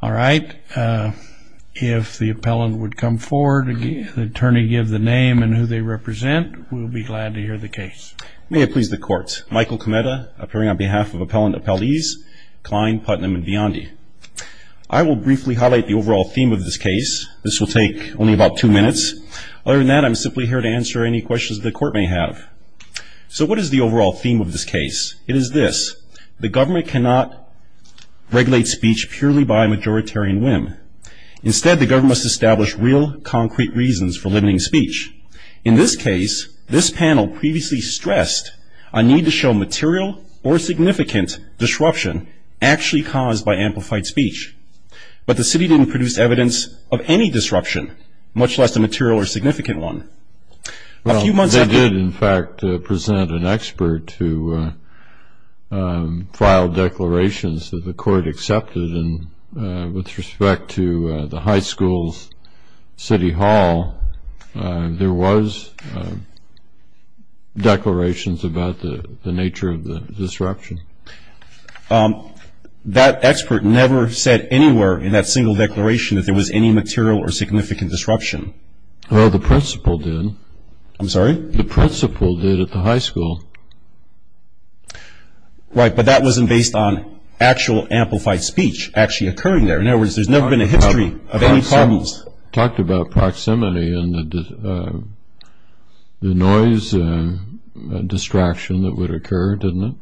All right, if the appellant would come forward, the attorney gives the name and who they represent, we'll be glad to hear the case. May it please the court. Michael Cometa, appearing on behalf of Appellant Appellees Klein, Putnam, and Biondi. I will briefly highlight the overall theme of this case. This will take only about two minutes. Other than that, I'm simply here to answer any questions the court may have. So what is the overall theme of this case? It is this. The government cannot regulate speech purely by majoritarian whim. Instead, the government must establish real, concrete reasons for limiting speech. In this case, this panel previously stressed a need to show material or significant disruption actually caused by amplified speech. But the city didn't produce evidence of any disruption, much less a material or significant one. Well, they did, in fact, present an expert to file declarations that the court accepted. And with respect to the high school's city hall, there was declarations about the nature of the disruption. That expert never said anywhere in that single declaration that there was any material or significant disruption. Well, the principal did. I'm sorry? The principal did at the high school. Right, but that wasn't based on actual amplified speech actually occurring there. In other words, there's never been a history of any problems. Talked about proximity and the noise and distraction that would occur, didn't it?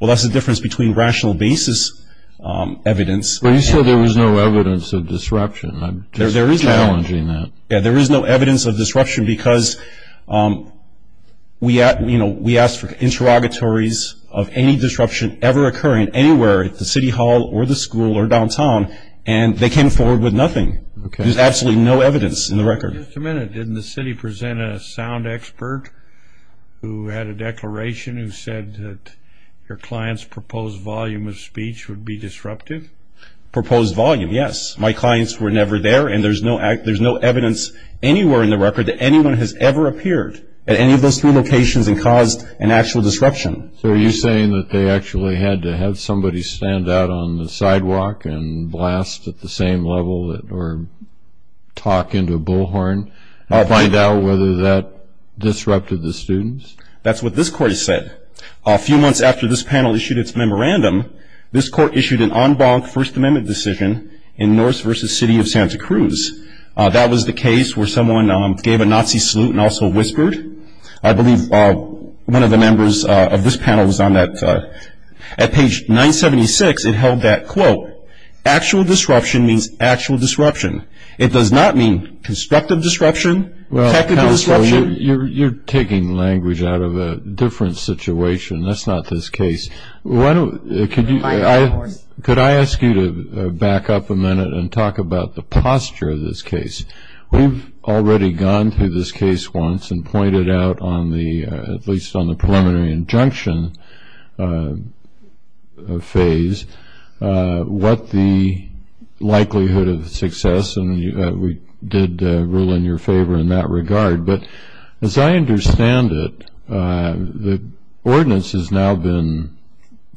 Well, that's the difference between rational basis evidence. But you said there was no evidence of disruption. I'm just challenging that. Yeah, there is no evidence of disruption because we asked for interrogatories of any disruption ever occurring anywhere, at the city hall or the school or downtown, and they came forward with nothing. There's absolutely no evidence in the record. Just a minute. Didn't the city present a sound expert who had a declaration who said that your client's proposed volume of speech would be disruptive? Proposed volume, yes. My clients were never there, and there's no evidence anywhere in the record that anyone has ever appeared at any of those three locations and caused an actual disruption. So are you saying that they actually had to have somebody stand out on the sidewalk and blast at the same level or talk into a bullhorn to find out whether that disrupted the students? That's what this court has said. A few months after this panel issued its memorandum, this court issued an en banc First Amendment decision in Norse v. City of Santa Cruz. That was the case where someone gave a Nazi salute and also whispered. I believe one of the members of this panel was on that. At page 976, it held that, quote, actual disruption means actual disruption. It does not mean constructive disruption, technical disruption. Well, counsel, you're taking language out of a different situation. That's not this case. Could I ask you to back up a minute and talk about the posture of this case? We've already gone through this case once and pointed out, at least on the preliminary injunction phase, what the likelihood of success, and we did rule in your favor in that regard. But as I understand it, the ordinance has now been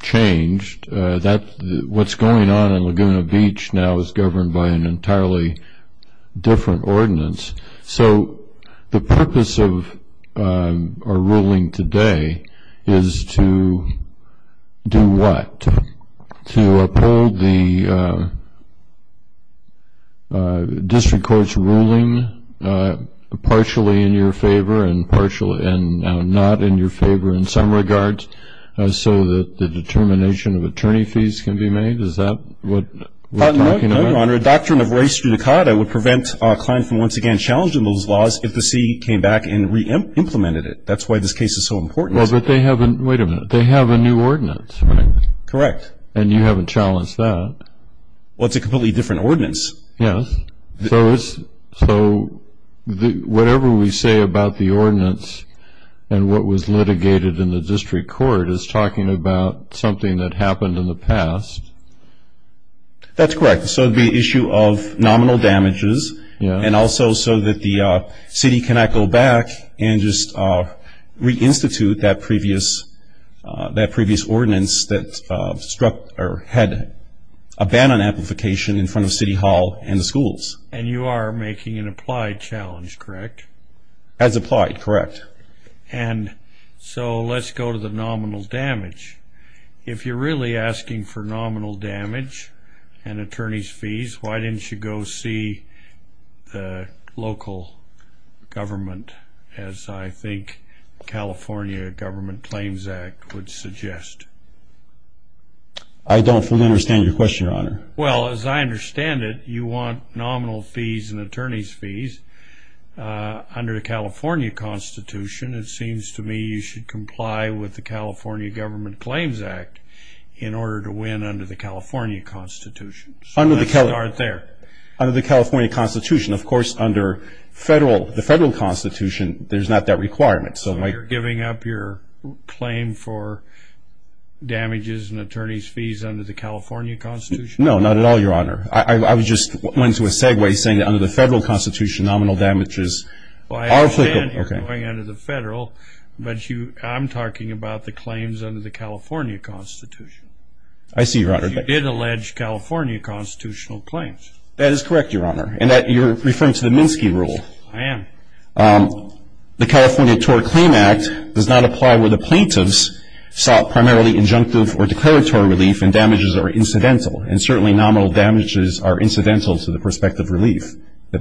changed. What's going on in Laguna Beach now is governed by an entirely different ordinance. So the purpose of our ruling today is to do what? To uphold the district court's ruling partially in your favor and not in your favor in some regards so that the determination of attorney fees can be made? Is that what we're talking about? No, Your Honor. A doctrine of res judicata would prevent a client from once again challenging those laws if the city came back and re-implemented it. That's why this case is so important. Wait a minute. They have a new ordinance, right? Correct. And you haven't challenged that? Well, it's a completely different ordinance. Yes. So whatever we say about the ordinance and what was litigated in the district court is talking about something that happened in the past? That's correct. So the issue of nominal damages and also so that the city cannot go back and just re-institute that previous ordinance that had a ban on amplification in front of City Hall and the schools. And you are making an applied challenge, correct? As applied, correct. And so let's go to the nominal damage. Why didn't you go see the local government as I think the California Government Claims Act would suggest? I don't fully understand your question, Your Honor. Well, as I understand it, you want nominal fees and attorney's fees under the California Constitution. It seems to me you should comply with the California Government Claims Act in order to win under the California Constitution. So let's start there. Under the California Constitution. Of course, under the federal constitution, there's not that requirement. So you're giving up your claim for damages and attorney's fees under the California Constitution? No, not at all, Your Honor. I was just going to a segue saying that under the federal constitution, nominal damages are applicable. Well, I understand you're going under the federal, but I'm talking about the claims under the California Constitution. I see, Your Honor. But you did allege California constitutional claims. That is correct, Your Honor. And you're referring to the Minsky Rule. I am. The California Tort Claim Act does not apply where the plaintiffs sought primarily injunctive or declaratory relief and damages are incidental. And certainly nominal damages are incidental to the prospect of relief. That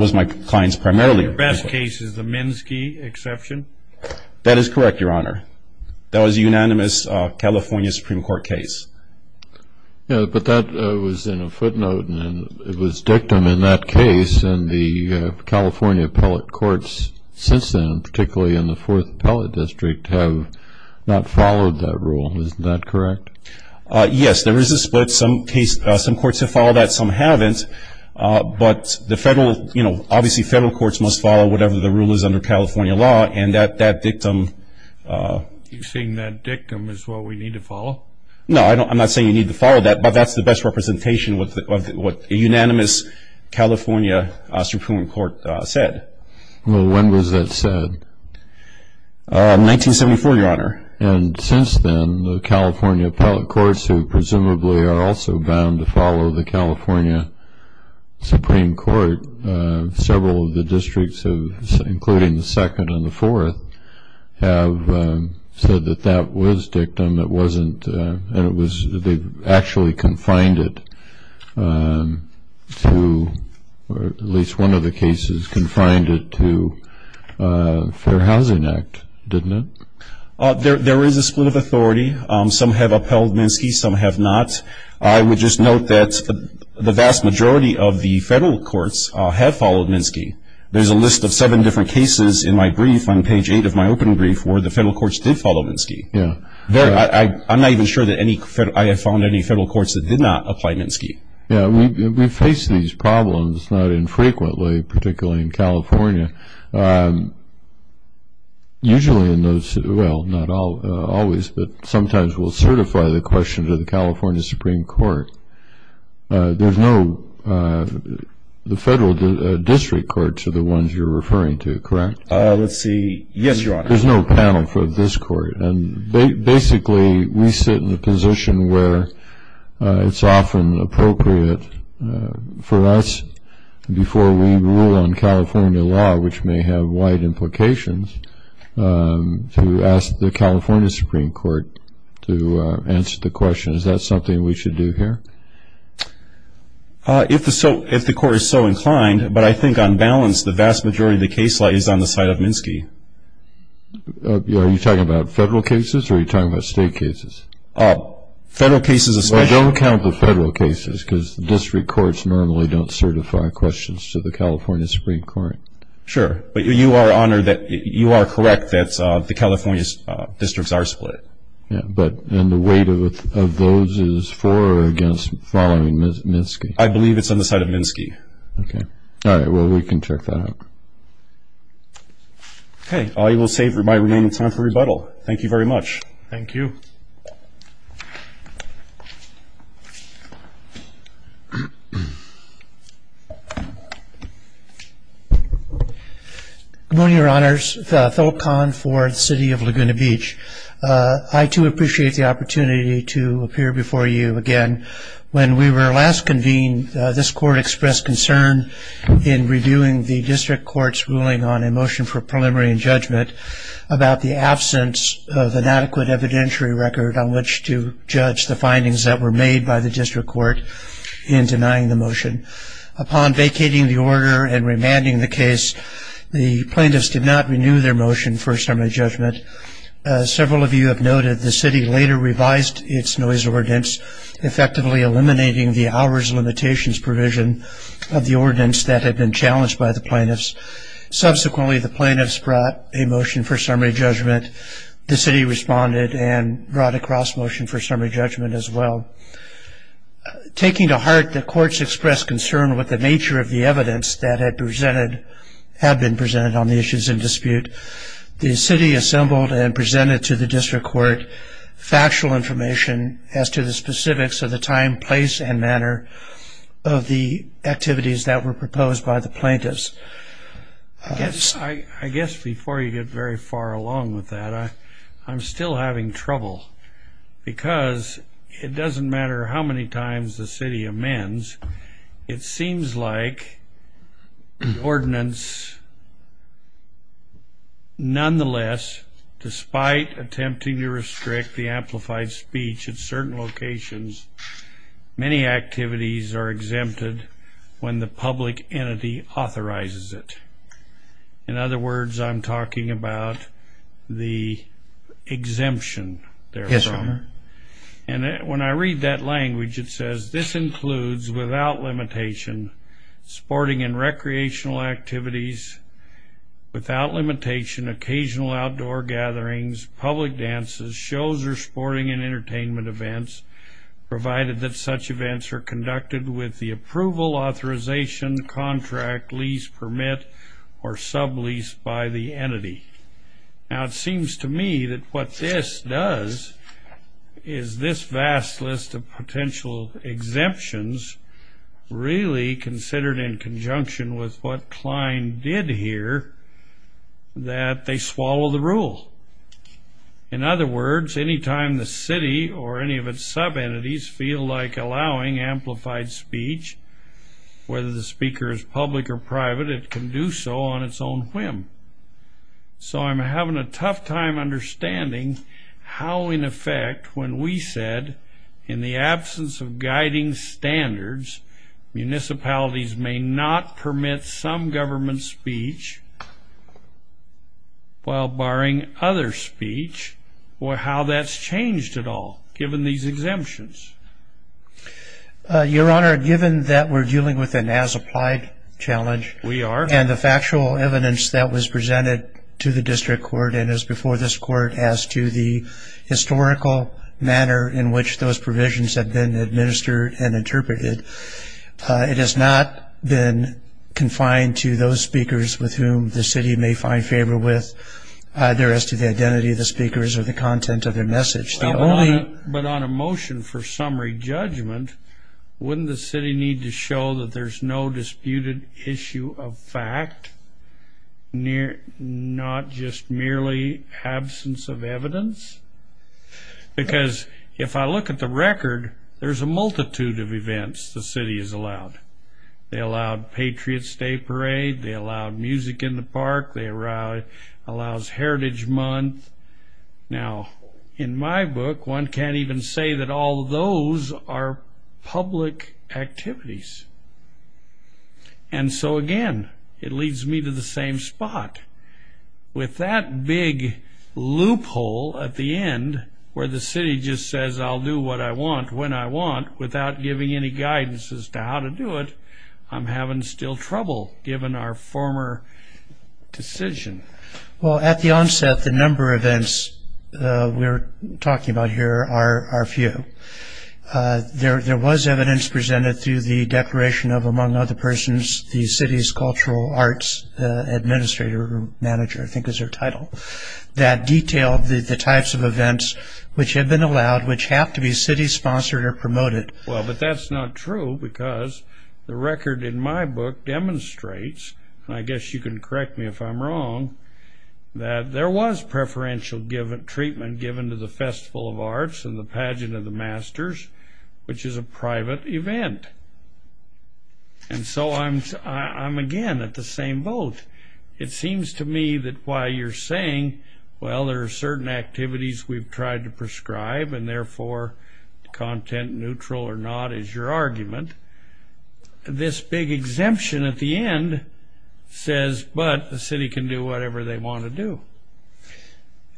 was my client's primarily. The best case is the Minsky exception? That is correct, Your Honor. That was a unanimous California Supreme Court case. But that was in a footnote, and it was dictum in that case, and the California appellate courts since then, particularly in the Fourth Appellate District, have not followed that rule. Isn't that correct? Yes, there is a split. Some courts have followed that, some haven't. But obviously federal courts must follow whatever the rule is under California law, and that dictum. You're saying that dictum is what we need to follow? No, I'm not saying you need to follow that, but that's the best representation of what a unanimous California Supreme Court said. Well, when was that said? 1974, Your Honor. And since then, the California appellate courts, who presumably are also bound to follow the California Supreme Court, several of the districts, including the second and the fourth, have said that that was dictum. It wasn't, and it was, they actually confined it to, or at least one of the cases confined it to Fair Housing Act, didn't it? There is a split of authority. Some have upheld Minsky, some have not. I would just note that the vast majority of the federal courts have followed Minsky. There's a list of seven different cases in my brief on page eight of my opening brief where the federal courts did follow Minsky. I'm not even sure that I have found any federal courts that did not apply Minsky. Yeah, we face these problems, not infrequently, particularly in California. Usually in those, well, not always, but sometimes we'll certify the question to the California Supreme Court. There's no, the federal district courts are the ones you're referring to, correct? Let's see. Yes, Your Honor. There's no panel for this court, and basically we sit in a position where it's often appropriate for us, before we rule on California law, which may have wide implications, to ask the California Supreme Court to answer the question. Is that something we should do here? If the court is so inclined, but I think on balance the vast majority of the case law is on the side of Minsky. Are you talking about federal cases or are you talking about state cases? Federal cases especially. Well, don't count the federal cases because the district courts normally don't certify questions to the California Supreme Court. Sure, but you are correct that the California districts are split. And the weight of those is for or against following Minsky? I believe it's on the side of Minsky. Okay. All right, well, we can check that out. Okay, I will save my remaining time for rebuttal. Thank you very much. Thank you. Good morning, Your Honors. Tholk Kahn for the City of Laguna Beach. I, too, appreciate the opportunity to appear before you again. When we were last convened, this court expressed concern in reviewing the district court's ruling on a motion for preliminary judgment about the absence of an adequate evidentiary record on which to judge the findings that were made by the district court in denying the motion. Upon vacating the order and remanding the case, the plaintiffs did not renew their motion for a summary judgment. Several of you have noted the city later revised its noise ordinance, effectively eliminating the hours limitations provision of the ordinance that had been challenged by the plaintiffs. Subsequently, the plaintiffs brought a motion for summary judgment. The city responded and brought a cross motion for summary judgment as well. Taking to heart the court's expressed concern with the nature of the evidence that had presented, had been presented on the issues in dispute, the city assembled and presented to the district court factual information as to the specifics of the time, place, and manner of the activities that were proposed by the plaintiffs. I guess before you get very far along with that, I'm still having trouble. Because it doesn't matter how many times the city amends, it seems like the ordinance, nonetheless, despite attempting to restrict the amplified speech at certain locations, many activities are exempted when the public entity authorizes it. In other words, I'm talking about the exemption. Yes, Your Honor. And when I read that language, it says, this includes, without limitation, sporting and recreational activities. Without limitation, occasional outdoor gatherings, public dances, shows or sporting and entertainment events, provided that such events are conducted with the approval, authorization, contract, lease, permit, or sublease by the entity. Now, it seems to me that what this does is this vast list of potential exemptions, really considered in conjunction with what Klein did here, that they swallow the rule. In other words, any time the city or any of its sub-entities feel like allowing amplified speech, whether the speaker is public or private, it can do so on its own whim. So I'm having a tough time understanding how, in effect, when we said, in the absence of guiding standards, municipalities may not permit some government speech, while barring other speech, how that's changed at all, given these exemptions. Your Honor, given that we're dealing with an as-applied challenge. We are. And the factual evidence that was presented to the district court and is before this court as to the historical manner in which those provisions have been administered and interpreted, it has not been confined to those speakers with whom the city may find favor with, either as to the identity of the speakers or the content of their message. But on a motion for summary judgment, wouldn't the city need to show that there's no disputed issue of fact, not just merely absence of evidence? Because if I look at the record, there's a multitude of events the city has allowed. They allowed Patriot's Day Parade. They allowed music in the park. They allowed Heritage Month. Now, in my book, one can't even say that all those are public activities. And so, again, it leads me to the same spot. With that big loophole at the end where the city just says, I'll do what I want when I want without giving any guidance as to how to do it, I'm having still trouble, given our former decision. Well, at the onset, the number of events we're talking about here are few. There was evidence presented through the declaration of, among other persons, the city's cultural arts administrator or manager, I think is their title, that detailed the types of events which had been allowed, which have to be city-sponsored or promoted. Well, but that's not true because the record in my book demonstrates, and I guess you can correct me if I'm wrong, that there was preferential treatment given to the Festival of Arts and the Pageant of the Masters, which is a private event. And so I'm, again, at the same boat. It seems to me that while you're saying, well, there are certain activities we've tried to prescribe and, therefore, content neutral or not is your argument, this big exemption at the end says, but the city can do whatever they want to do.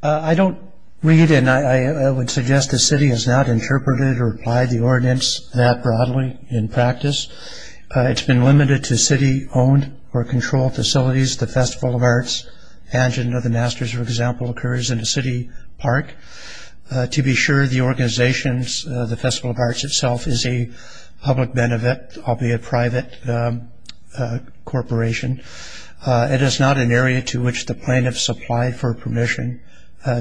I don't read, and I would suggest the city has not interpreted or applied the ordinance that broadly in practice. It's been limited to city-owned or controlled facilities. The Festival of Arts Pageant of the Masters, for example, occurs in a city park. To be sure, the organization, the Festival of Arts itself, is a public benefit, albeit private corporation. It is not an area to which the plaintiffs apply for permission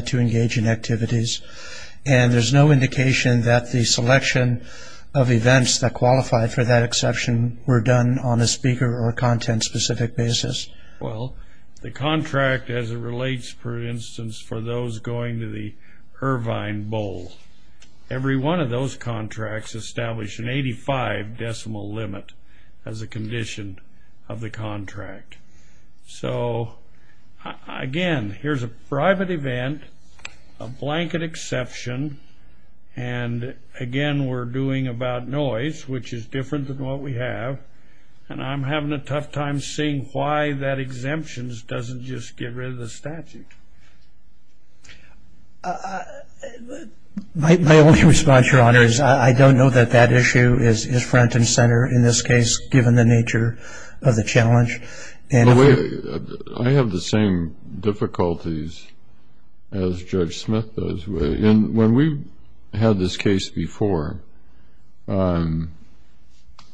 to engage in activities, and there's no indication that the selection of events that qualify for that exception were done on a speaker or content-specific basis. Well, the contract, as it relates, for instance, for those going to the Irvine Bowl, every one of those contracts establish an 85-decimal limit as a condition of the contract. So, again, here's a private event, a blanket exception, and, again, we're doing about noise, which is different than what we have, and I'm having a tough time seeing why that exemption doesn't just get rid of the statute. My only response, Your Honor, is I don't know that that issue is front and center in this case, given the nature of the challenge. I have the same difficulties as Judge Smith does. When we had this case before, on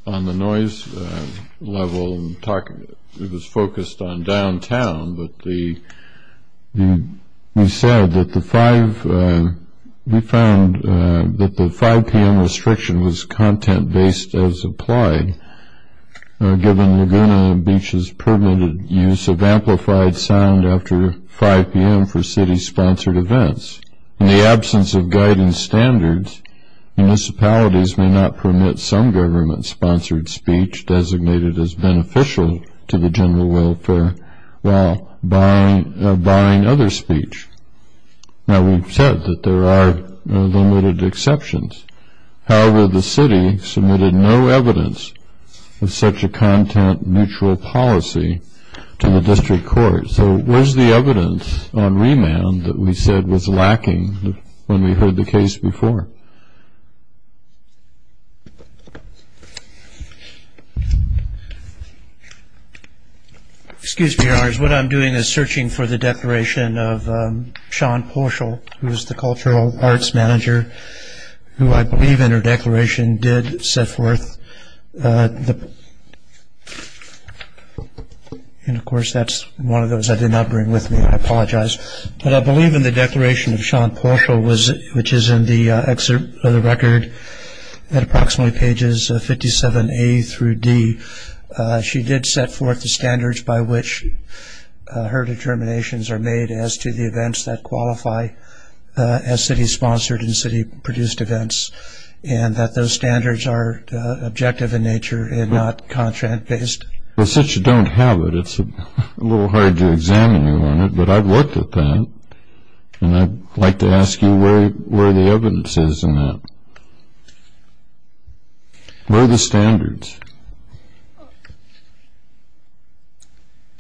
the noise level, it was focused on downtown, but we found that the 5 p.m. restriction was content-based as applied, given Laguna Beach's permitted use of amplified sound after 5 p.m. for city-sponsored events. In the absence of guidance standards, municipalities may not permit some government-sponsored speech designated as beneficial to the general welfare while barring other speech. Now, we've said that there are limited exceptions. However, the city submitted no evidence of such a content-neutral policy to the district court. So where's the evidence on remand that we said was lacking when we heard the case before? Excuse me, Your Honor. What I'm doing is searching for the declaration of Sean Portial, who is the cultural arts manager, who I believe in her declaration did set forth. And, of course, that's one of those I did not bring with me. I apologize. But I believe in the declaration of Sean Portial, which is in the record at approximately pages 57A through D. She did set forth the standards by which her determinations are made as to the events that qualify as city-sponsored and city-produced events, and that those standards are objective in nature and not contract-based. Well, since you don't have it, it's a little hard to examine you on it. But I've looked at that, and I'd like to ask you where the evidence is in that. Where are the standards?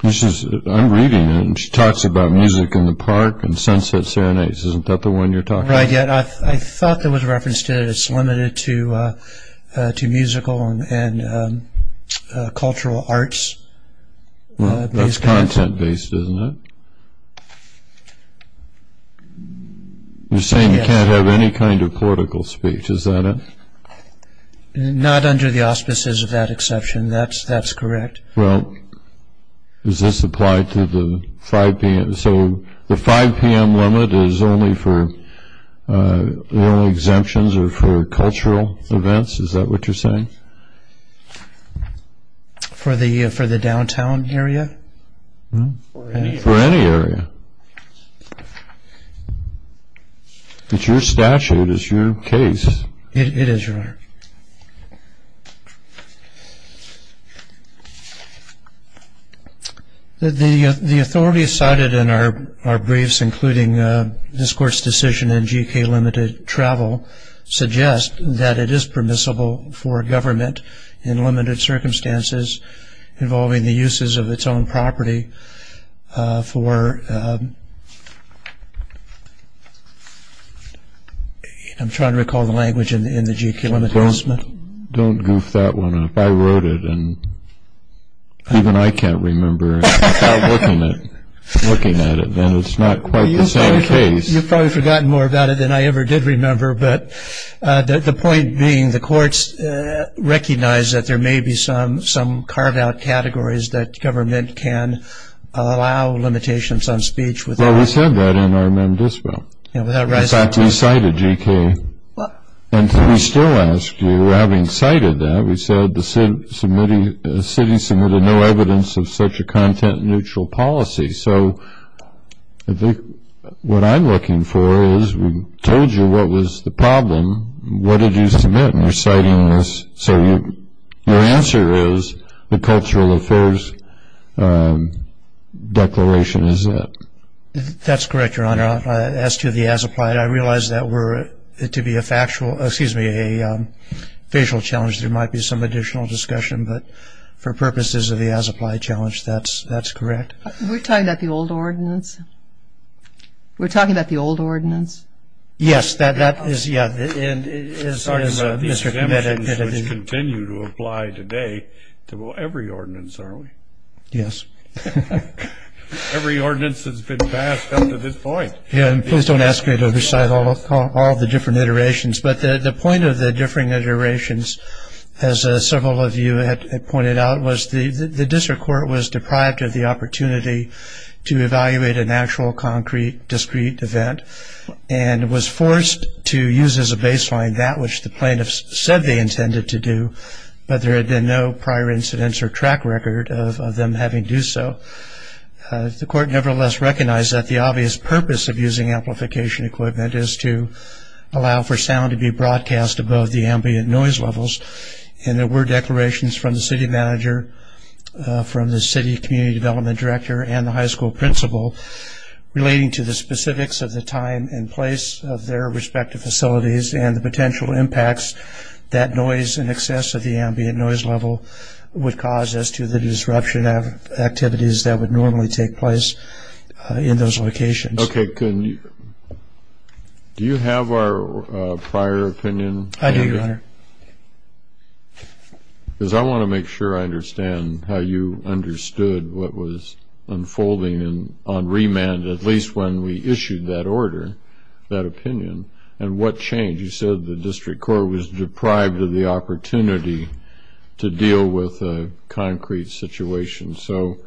I'm reading it, and she talks about music in the park and sunset serenades. Isn't that the one you're talking about? Right. I thought there was reference to it. It's limited to musical and cultural arts. That's content-based, isn't it? You're saying you can't have any kind of political speech, is that it? Not under the auspices of that exception. That's correct. Well, does this apply to the 5 p.m. So the 5 p.m. limit is only for exemptions or for cultural events, is that what you're saying? For the downtown area? For any area. It's your statute. It's your case. It is, Your Honor. The authority cited in our briefs, including this Court's decision in G.E.K. limited travel, suggests that it is permissible for government in limited circumstances involving the uses of its own property for I'm trying to recall the language in the G.E.K. limited assessment. Don't goof that one up. I wrote it, and even I can't remember. Without looking at it, then it's not quite the same case. You've probably forgotten more about it than I ever did remember. But the point being the courts recognize that there may be some carved-out categories that government can allow limitations on speech. Well, we said that in our mem dispo. In fact, we cited G.E.K. And we still ask you, having cited that, we said the city submitted no evidence of such a content-neutral policy. So what I'm looking for is we told you what was the problem. What did you submit? And you're citing this. So your answer is the Cultural Affairs Declaration is it. That's correct, Your Honor. As to the as-applied, I realize that were it to be a factual ‑‑ excuse me, a facial challenge, there might be some additional discussion. But for purposes of the as-applied challenge, that's correct. We're talking about the old ordinance? We're talking about the old ordinance? Yes, that is, yeah. We're talking about the exemptions which continue to apply today to every ordinance, are we? Yes. Every ordinance has been passed up to this point. Please don't ask me to recite all the different iterations. But the point of the different iterations, as several of you had pointed out, was the district court was deprived of the opportunity to evaluate an actual concrete, discrete event and was forced to use as a baseline that which the plaintiffs said they intended to do, but there had been no prior incidents or track record of them having to do so. The court nevertheless recognized that the obvious purpose of using amplification equipment is to allow for sound to be broadcast above the ambient noise levels. And there were declarations from the city manager, from the city community development director and the high school principal relating to the specifics of the time and place of their respective facilities and the potential impacts that noise in excess of the ambient noise level would cause as to the disruption of activities that would normally take place in those locations. Okay. I do, Your Honor. Because I want to make sure I understand how you understood what was unfolding on remand, at least when we issued that order, that opinion, and what changed. You said the district court was deprived of the opportunity to deal with a concrete situation. So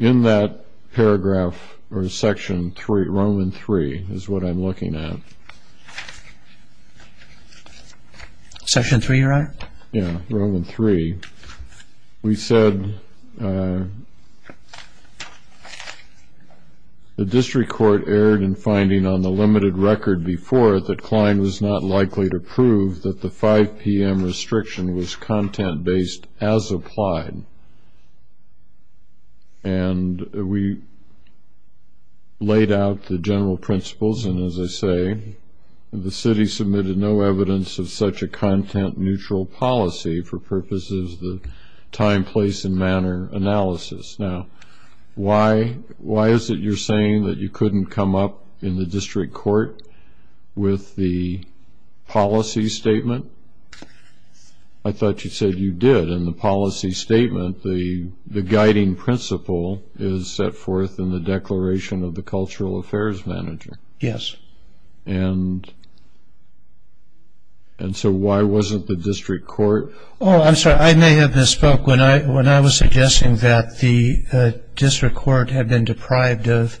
in that paragraph or section 3, Roman 3, is what I'm looking at. Section 3, Your Honor? Yeah, Roman 3. We said the district court erred in finding on the limited record before it that Klein was not likely to prove that the 5 p.m. restriction was content-based as applied. And we laid out the general principles. And, as I say, the city submitted no evidence of such a content-neutral policy for purposes of the time, place, and manner analysis. Now, why is it you're saying that you couldn't come up in the district court with the policy statement? I thought you said you did. In the policy statement, the guiding principle is set forth in the declaration of the cultural affairs manager. Yes. And so why wasn't the district court? Oh, I'm sorry. I may have misspoke when I was suggesting that the district court had been deprived of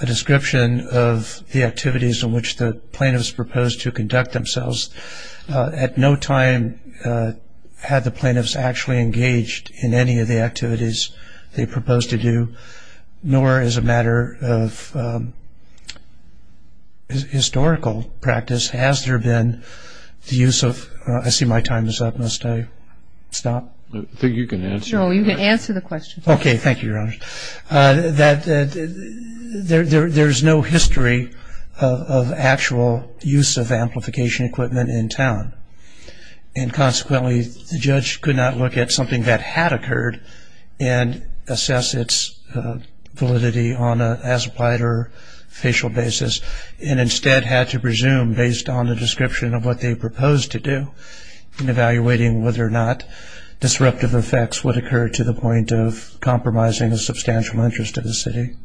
a description of the activities in which the plaintiffs proposed to conduct themselves. At no time had the plaintiffs actually engaged in any of the activities they proposed to do, nor as a matter of historical practice has there been the use of ‑‑ I see my time is up. Must I stop? I think you can answer. No, you can answer the question. Okay. Thank you, Your Honor. And consequently, the judge could not look at something that had occurred and assess its validity on an as-applied or facial basis, and instead had to presume based on the description of what they proposed to do in evaluating whether or not disruptive effects would occur to the point of compromising the substantial interest of the city.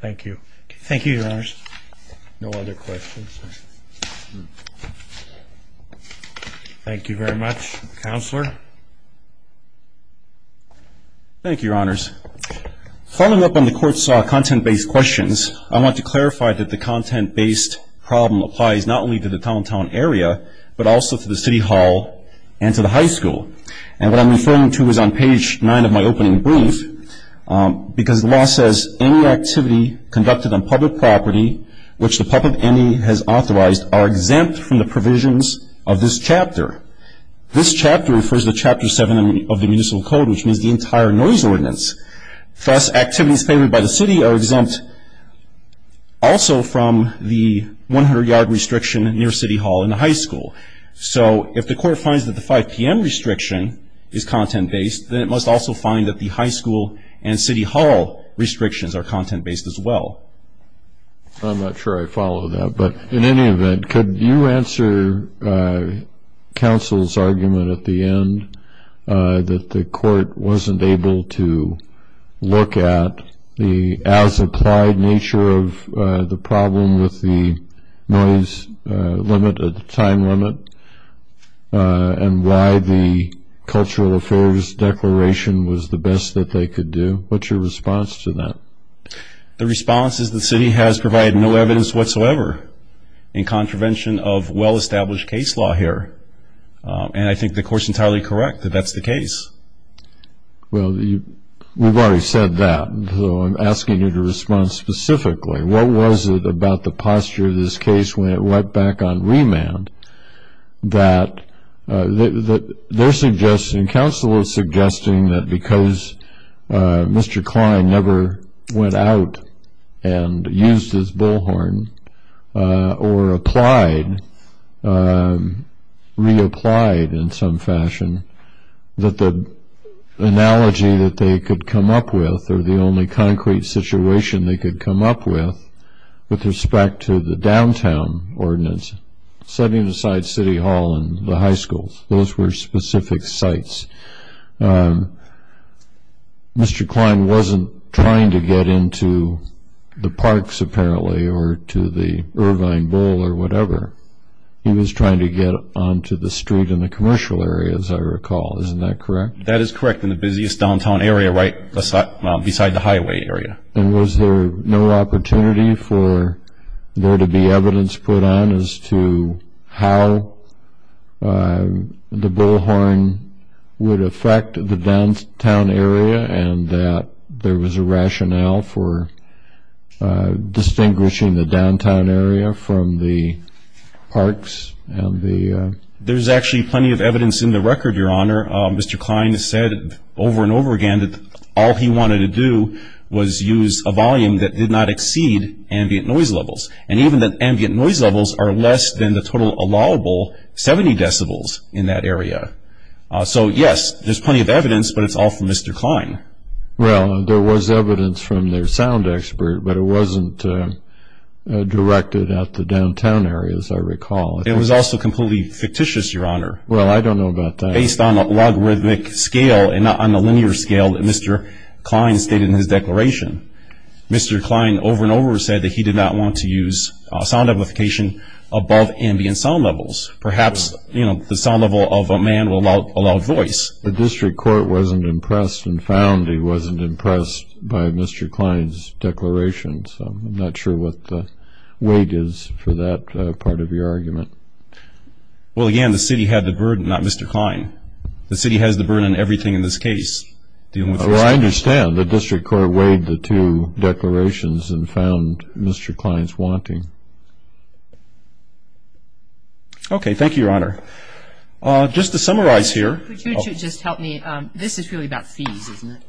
Thank you. Thank you, Your Honors. No other questions? Thank you very much. Counselor? Thank you, Your Honors. Following up on the court's content-based questions, I want to clarify that the content-based problem applies not only to the downtown area, but also to the city hall and to the high school. And what I'm referring to is on page 9 of my opening brief, because the law says any activity conducted on public property, which the PUP of any has authorized, are exempt from the provisions of this chapter. This chapter refers to Chapter 7 of the Municipal Code, which means the entire noise ordinance. Thus, activities favored by the city are exempt also from the 100-yard restriction near city hall and the high school. So if the court finds that the 5 p.m. restriction is content-based, then it must also find that the high school and city hall restrictions are content-based as well. I'm not sure I follow that. But in any event, could you answer counsel's argument at the end that the court wasn't able to look at the as-applied nature of the problem with the noise limit at the time limit and why the Cultural Affairs Declaration was the best that they could do? What's your response to that? The response is the city has provided no evidence whatsoever in contravention of well-established case law here. And I think the court's entirely correct that that's the case. Well, we've already said that, so I'm asking you to respond specifically. What was it about the posture of this case when it went back on remand that they're suggesting, counsel is suggesting that because Mr. Klein never went out and used his bullhorn or applied, reapplied in some fashion, that the analogy that they could come up with or the only concrete situation they could come up with with respect to the downtown ordinance, setting aside city hall and the high schools, those were specific sites. Mr. Klein wasn't trying to get into the parks, apparently, or to the Irvine Bowl or whatever. He was trying to get onto the street in the commercial area, as I recall. Isn't that correct? That is correct, in the busiest downtown area right beside the highway area. And was there no opportunity for there to be evidence put on as to how the bullhorn would affect the downtown area and that there was a rationale for distinguishing the downtown area from the parks? There's actually plenty of evidence in the record, Your Honor. Mr. Klein has said over and over again that all he wanted to do was use a volume that did not exceed ambient noise levels. And even the ambient noise levels are less than the total allowable 70 decibels in that area. So, yes, there's plenty of evidence, but it's all from Mr. Klein. Well, there was evidence from their sound expert, but it wasn't directed at the downtown area, as I recall. It was also completely fictitious, Your Honor. Well, I don't know about that. It was based on a logarithmic scale and not on the linear scale that Mr. Klein stated in his declaration. Mr. Klein over and over said that he did not want to use sound amplification above ambient sound levels. Perhaps, you know, the sound level of a man will allow voice. The district court wasn't impressed and found he wasn't impressed by Mr. Klein's declaration, so I'm not sure what the weight is for that part of your argument. Well, again, the city had the burden, not Mr. Klein. The city has the burden in everything in this case. Well, I understand. The district court weighed the two declarations and found Mr. Klein's wanting. Okay. Thank you, Your Honor. Just to summarize here. Could you two just help me? This is really about fees, isn't it?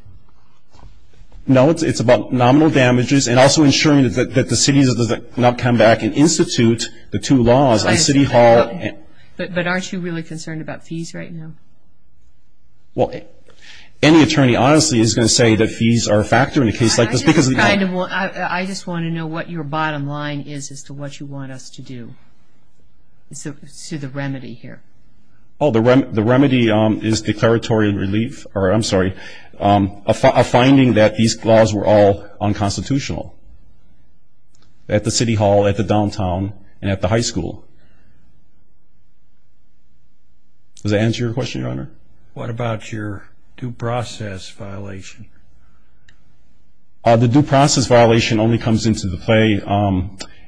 No, it's about nominal damages and also ensuring that the city does not come back and institute the two laws on city hall. But aren't you really concerned about fees right now? Well, any attorney, honestly, is going to say that fees are a factor in a case like this. I just want to know what your bottom line is as to what you want us to do, to the remedy here. Oh, the remedy is declaratory relief or, I'm sorry, a finding that these laws were all unconstitutional at the city hall, at the downtown, and at the high school. Does that answer your question, Your Honor? What about your due process violation? The due process violation only comes into play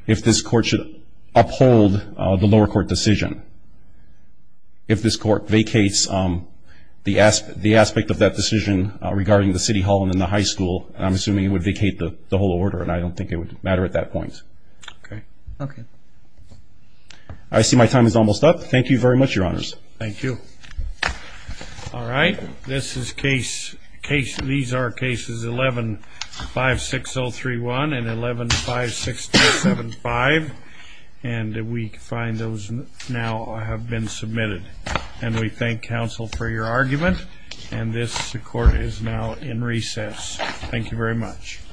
if this court should uphold the lower court decision. If this court vacates the aspect of that decision regarding the city hall and the high school, I'm assuming it would vacate the whole order, and I don't think it would matter at that point. Okay. Okay. I see my time is almost up. Thank you very much, Your Honors. Thank you. All right. These are cases 11-56031 and 11-56275, and we find those now have been submitted. And we thank counsel for your argument, and this court is now in recess. Thank you very much.